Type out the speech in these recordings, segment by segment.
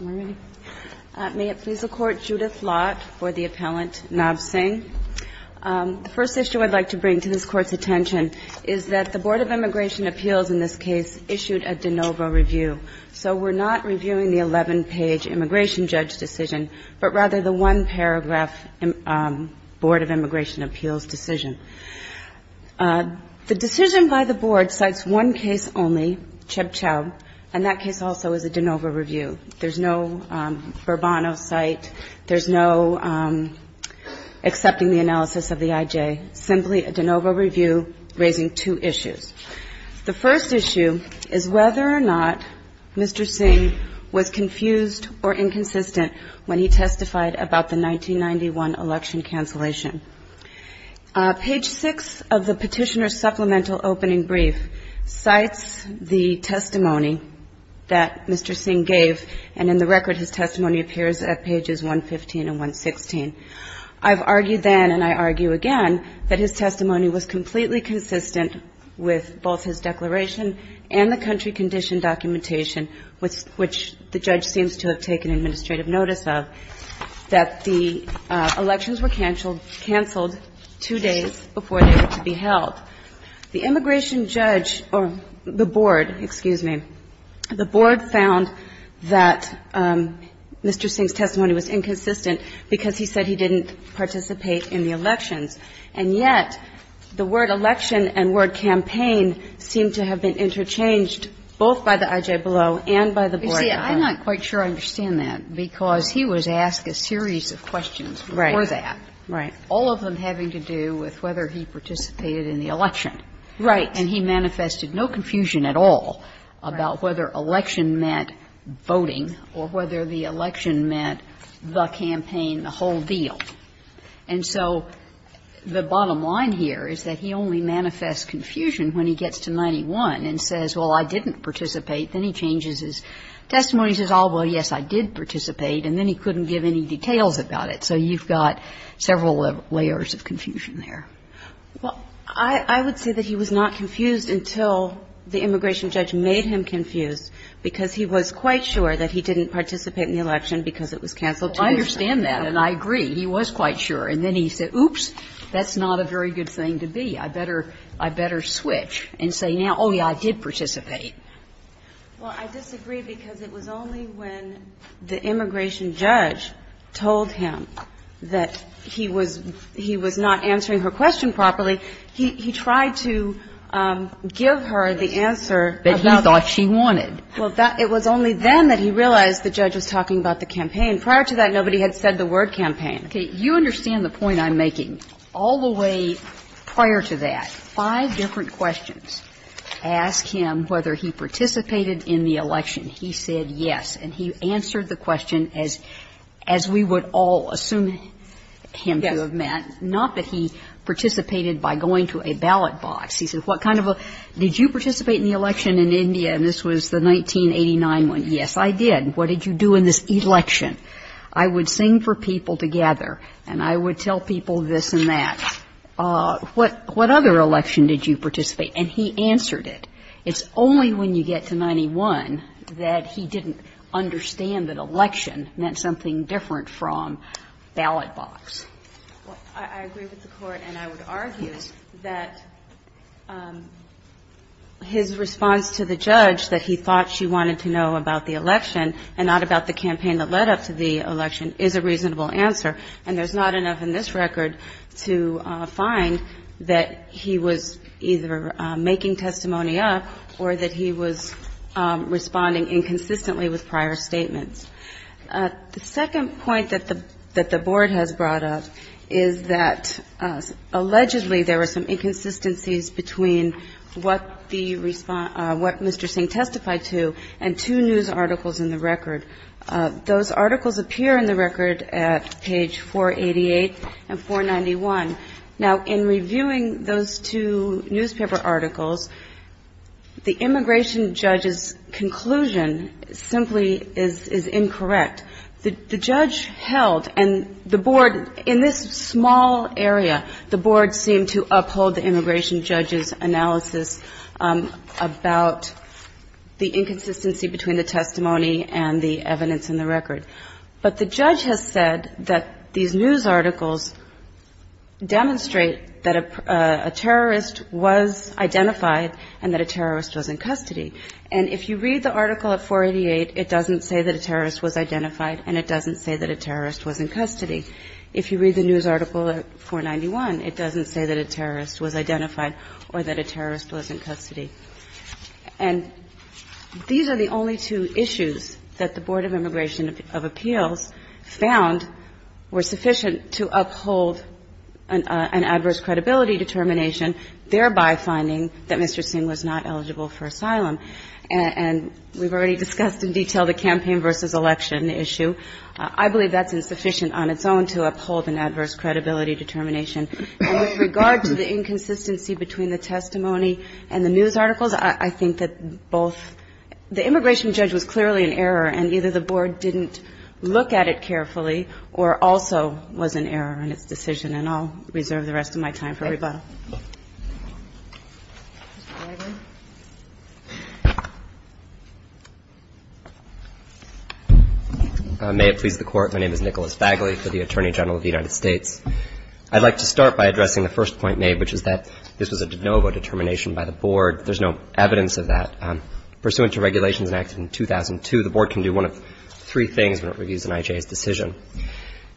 May it please the Court, Judith Lott for the appellant, Nav Singh. The first issue I'd like to bring to this Court's attention is that the Board of Immigration Appeals in this case issued a de novo review. So we're not reviewing the 11-page immigration judge decision, but rather the one-paragraph Board of Immigration Judges decision. There's no de novo review. There's no Bourbon site. There's no accepting the analysis of the IJ. Simply a de novo review raising two issues. The first issue is whether or not Mr. Singh was confused or inconsistent when he testified about the 1991 election cancellation. Page 6 of the Petitioner's Supplemental Opening Brief cites the testimony that Mr. Singh gave, and in the record his testimony appears at pages 115 and 116. I've argued then, and I argue again, that his testimony was completely consistent with both his declaration and the country condition documentation, which the judge seems to have taken administrative notice of, that the elections were canceled two days before they were to be held. The immigration judge or the Board, excuse me, the Board found that Mr. Singh's testimony was inconsistent because he said he didn't participate in the elections, and yet the word election and word campaign seemed to have been interchanged both by the IJ below and by the Board above. You see, I'm not quite sure I understand that, because he was asked a series of questions before that, all of them having to do with whether he participated in the election, and he manifested no confusion at all about whether election meant voting or whether the election meant the campaign, the whole deal. And so the bottom line here is that he only manifests confusion when he gets to 91 and says, well, I didn't participate. Then he changes his testimony. He says, oh, well, yes, I did participate. And then he couldn't give any details about it. So you've got several layers of confusion there. Well, I would say that he was not confused until the immigration judge made him confused, because he was quite sure that he didn't participate in the election because it was canceled two days before. I understand that, and I agree. He was quite sure. And then he said, oops, that's not a very good thing to be. I better switch and say now, oh, yes, I did participate. Well, I disagree because it was only when the immigration judge told him that he was not answering her question properly, he tried to give her the answer about that. That he thought she wanted. Well, it was only then that he realized the judge was talking about the campaign. And prior to that, nobody had said the word campaign. Okay. You understand the point I'm making. All the way prior to that, five different questions ask him whether he participated in the election. He said yes. And he answered the question as we would all assume him to have met, not that he participated by going to a ballot box. He said, what kind of a – did you participate in the election in India? And this was the 1989 one. Yes, I did. What did you do in this election? I would sing for people together and I would tell people this and that. What other election did you participate? And he answered it. It's only when you get to 1991 that he didn't understand that election meant something different from ballot box. Well, I agree with the Court, and I would argue that his response to the judge that he thought she wanted to know about the election and not about the campaign that led up to the election is a reasonable answer. And there's not enough in this record to find that he was either making testimony up or that he was responding inconsistently with prior statements. The second point that the Board has brought up is that allegedly there were some and two news articles in the record. Those articles appear in the record at page 488 and 491. Now, in reviewing those two newspaper articles, the immigration judge's conclusion simply is incorrect. The judge held, and the Board, in this small area, the Board seemed to uphold the immigration judge's inconsistency between the testimony and the evidence in the record. But the judge has said that these news articles demonstrate that a terrorist was identified and that a terrorist was in custody. And if you read the article at 488, it doesn't say that a terrorist was identified and it doesn't say that a terrorist was in custody. If you read the news article at 491, it doesn't say that a terrorist was identified or that a terrorist was in custody. And these are the only two issues that the Board of Immigration of Appeals found were sufficient to uphold an adverse credibility determination, thereby finding that Mr. Singh was not eligible for asylum. And we've already discussed in detail the campaign versus election issue. I believe that's insufficient on its own to uphold an adverse credibility determination. And with regard to the inconsistency between the testimony and the news articles, I think that both the immigration judge was clearly in error, and either the Board didn't look at it carefully or also was in error in its decision. And I'll reserve the rest of my time for rebuttal. Mr. Bagley. May it please the Court. My name is Nicholas Bagley for the Attorney General of the United States. I'd like to start by addressing the first point made, which is that this was a de novo determination by the Board. There's no evidence of that. Pursuant to regulations enacted in 2002, the Board can do one of three things when it reviews an IJA's decision.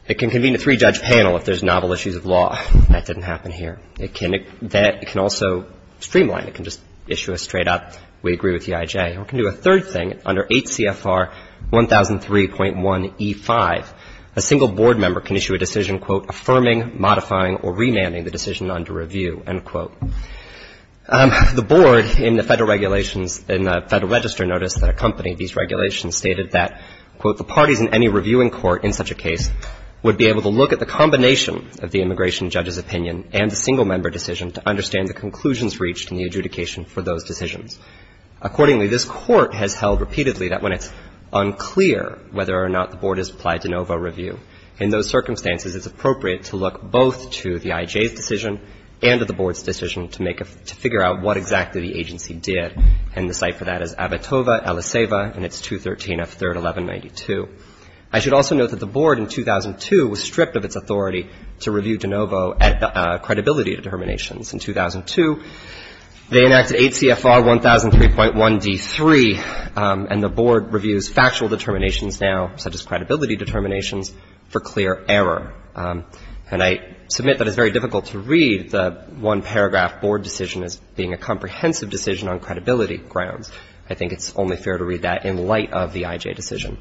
It can convene a three-judge panel if there's novel issues of law. That didn't happen here. It can also streamline. It can just issue a straight-up, we agree with the IJA. Or it can do a third thing. Under 8 CFR 1003.1E5, a single Board member can issue a decision, quote, affirming, modifying, or remanding the decision under review, end quote. The Board, in the Federal Register notice that accompanied these regulations, stated that, quote, the parties in any reviewing court in such a case would be able to look at the combination of the immigration judge's opinion and the single member decision to understand the conclusions reached in the adjudication for those decisions. Accordingly, this Court has held repeatedly that when it's unclear whether or not the Board has applied de novo review, in those circumstances, it's appropriate to look both to the IJA's decision and to the Board's decision to make a – to figure out what exactly the agency did. And the site for that is Abitoba, Eliseva, and it's 213 F. 3rd, 1192. I should also note that the Board in 2002 was stripped of its authority to review de novo at credibility determinations. In 2002, they enacted 8 CFR 1003.1D3, and the Board reviews factual determinations now, such as credibility determinations, for clear error. And I submit that it's very difficult to read the one-paragraph Board decision as being a comprehensive decision on credibility grounds. I think it's only fair to read that in light of the IJA decision.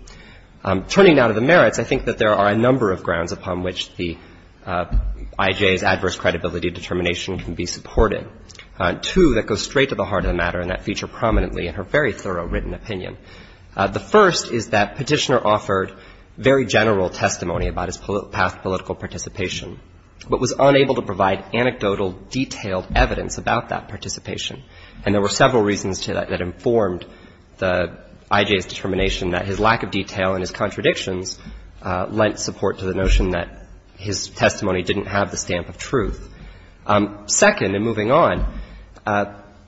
Turning now to the merits, I think that there are a number of grounds upon which the IJA's adverse credibility determination can be supported, two that go straight to the heart of the matter and that feature prominently in her very thorough written opinion. The first is that Petitioner offered very general testimony about his past political participation, but was unable to provide anecdotal detailed evidence about that participation. And there were several reasons to that that informed the IJA's determination that his lack of detail in his contradictions lent support to the notion that his testimony didn't have the stamp of truth. Second, and moving on,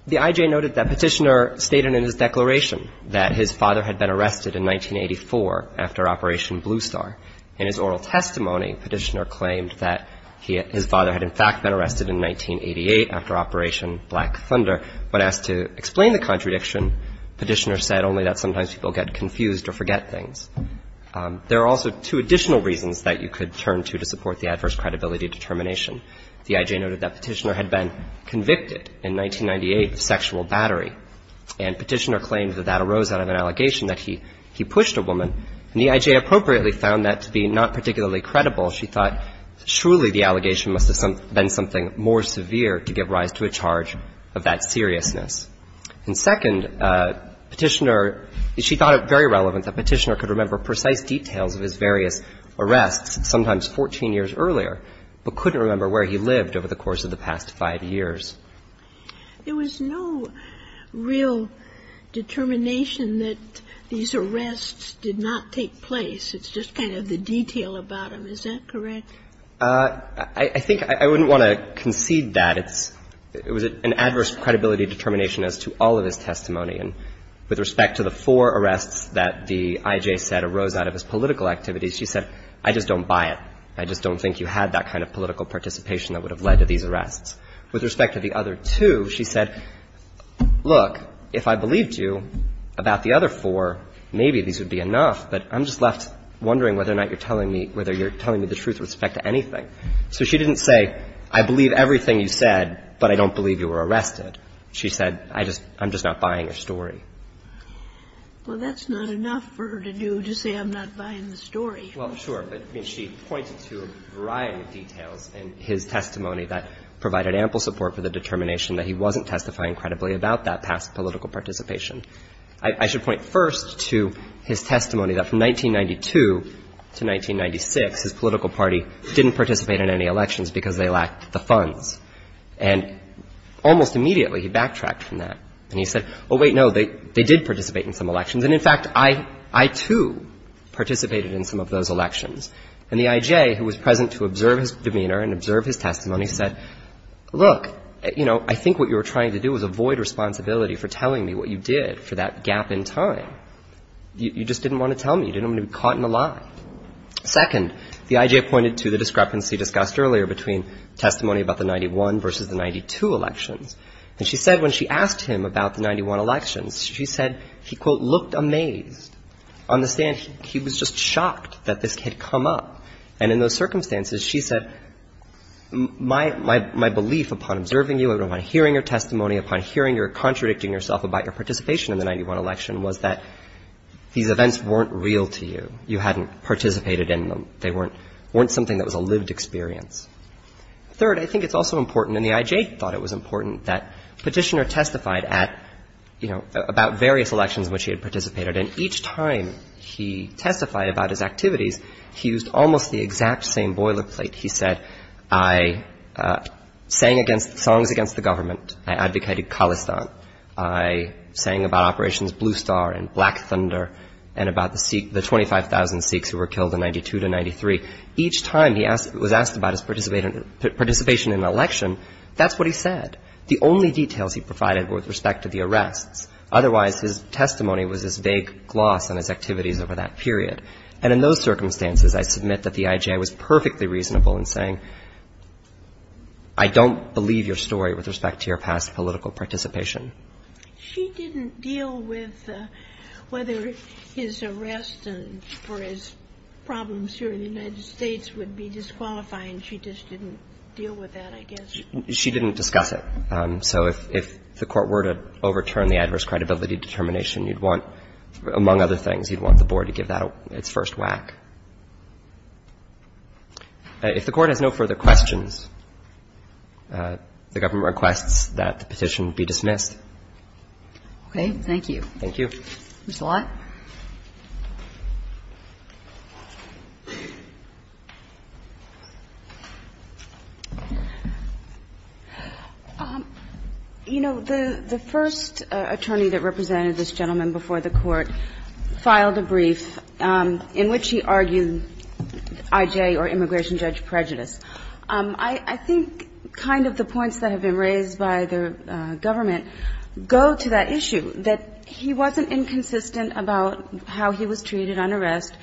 the IJA noted that Petitioner stated in his declaration that his father had been arrested in 1984 after Operation Blue Star. In his oral testimony, Petitioner claimed that his father had, in fact, been arrested in 1988 after Operation Black Thunder. When asked to explain the contradiction, Petitioner said only that sometimes people get confused or forget things. There are also two additional reasons that you could turn to to support the adverse credibility determination. The IJA noted that Petitioner had been convicted in 1998 of sexual battery, and Petitioner claimed that that arose out of an allegation that he pushed a woman. And the IJA appropriately found that to be not particularly credible. She thought surely the allegation must have been something more severe to give rise to a charge of that seriousness. And second, Petitioner, she thought it very relevant that Petitioner could remember precise details of his various arrests, sometimes 14 years earlier, but couldn't remember where he lived over the course of the past five years. There was no real determination that these arrests did not take place. It's just kind of the detail about them. Is that correct? I think I wouldn't want to concede that. It was an adverse credibility determination as to all of his testimony. And with respect to the four arrests that the IJA said arose out of his political activities, she said, I just don't buy it. I just don't think you had that kind of political participation that would have led to these arrests. With respect to the other two, she said, look, if I believed you about the other four, maybe these would be enough, but I'm just left wondering whether or not you're telling me the truth with respect to anything. So she didn't say, I believe everything you said, but I don't believe you were arrested. She said, I'm just not buying your story. Well, that's not enough for her to do to say I'm not buying the story. Well, sure. But she pointed to a variety of details in his testimony that provided ample support for the determination that he wasn't testifying credibly about that past political participation. I should point first to his testimony that from 1992 to 1996, his political party didn't participate in any elections because they lacked the funds. And almost immediately, he backtracked from that. And he said, oh, wait, no, they did participate in some elections. And in fact, I, too, participated in some of those elections. And the I.J., who was present to observe his demeanor and observe his testimony, said, look, you know, I think what you were trying to do was avoid responsibility for telling me what you did for that gap in time. You just didn't want to tell me. You didn't want to be caught in a lie. Second, the I.J. pointed to the discrepancy discussed earlier between testimony about the 91 versus the 92 elections. And she said when she asked him about the 91 elections, she said he, quote, looked amazed. On the stand, he was just shocked that this had come up. And in those circumstances, she said, my belief upon observing you, upon hearing your testimony, upon hearing your contradicting yourself about your participation in the 91 election was that these events weren't real to you. You hadn't participated in them. They weren't something that was a lived experience. Third, I think it's also important, and the I.J. thought it was important, that Petitioner testified at, you know, about various elections in which he had participated. And each time he testified about his activities, he used almost the exact same boilerplate. He said, I sang against songs against the government. I advocated Khalistan. I sang about Operation Blue Star and Black Thunder and about the Sikh, the 25,000 Sikhs who were killed in 92 to 93. Each time he was asked about his participation in an election, that's what he said. The only details he provided were with respect to the arrests. Otherwise, his testimony was this vague gloss on his activities over that period. And in those circumstances, I submit that the I.J. was perfectly reasonable in saying, I don't believe your story with respect to your past political participation. She didn't deal with whether his arrest and for his problems here in the United States would be disqualifying. She just didn't deal with that, I guess. She didn't discuss it. So if the Court were to overturn the adverse credibility determination, you'd want, among other things, you'd want the Board to give that its first whack. If the Court has no further questions, the government requests that the petition be dismissed. Okay. Thank you. Thank you. Ms. Lott. You know, the first attorney that represented this gentleman before the Court filed a brief in which he argued I.J. or immigration judge prejudice. I think kind of the points that have been raised by the government go to that issue, that he wasn't inconsistent about how he was treated on arrest.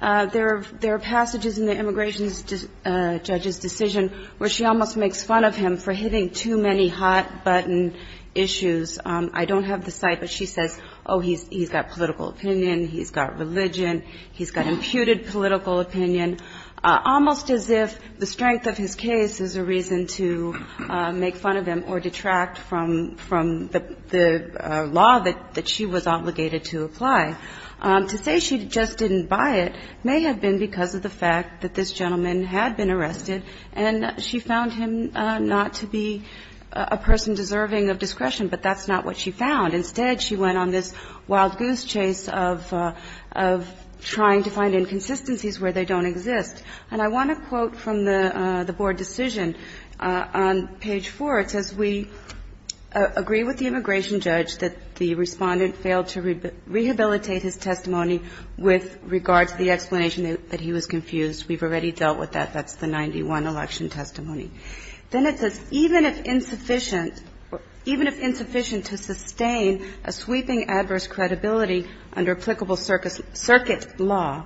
There are passages in the immigration judge's decision where she almost makes fun of him for hitting too many hot-button issues. I don't have the site, but she says, oh, he's got political opinion, he's got religion, he's got imputed political opinion. Almost as if the strength of his case is a reason to make fun of him or detract from the law that she was obligated to apply. To say she just didn't buy it may have been because of the fact that this gentleman had been arrested and she found him not to be a person deserving of discretion, but that's not what she found. Instead, she went on this wild goose chase of trying to find inconsistencies where they don't exist. And I want to quote from the board decision on page 4. It says, We agree with the immigration judge that the Respondent failed to rehabilitate his testimony with regard to the explanation that he was confused. We've already dealt with that. That's the 91 election testimony. Then it says, Even if insufficient to sustain a sweeping adverse credibility under applicable circuit law,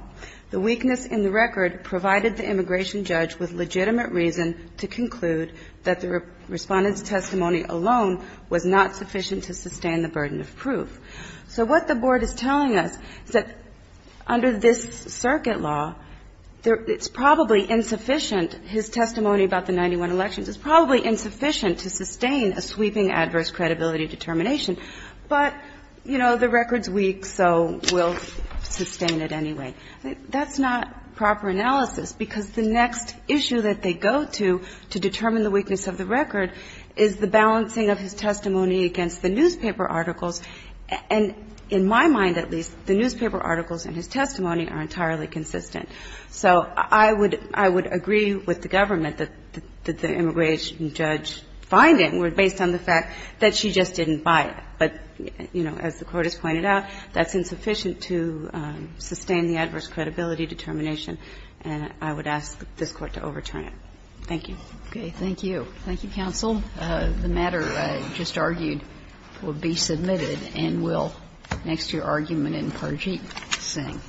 the weakness in the record provided the immigration judge with legitimate reason to conclude that the Respondent's testimony alone was not sufficient to sustain the burden of proof. So what the board is telling us is that under this circuit law, it's probably insufficient. His testimony about the 91 elections is probably insufficient to sustain a sweeping adverse credibility determination. But, you know, the record's weak, so we'll sustain it anyway. That's not proper analysis, because the next issue that they go to to determine the weakness of the record is the balancing of his testimony against the newspaper articles. And in my mind, at least, the newspaper articles in his testimony are entirely consistent. So I would agree with the government that the immigration judge find it based on the fact that she just didn't buy it. But, you know, as the Court has pointed out, that's insufficient to sustain the adverse credibility determination, and I would ask this Court to overturn Thank you. Kagan. Thank you. Thank you, counsel. The matter just argued will be submitted and will, next to your argument in Parjeet Singh.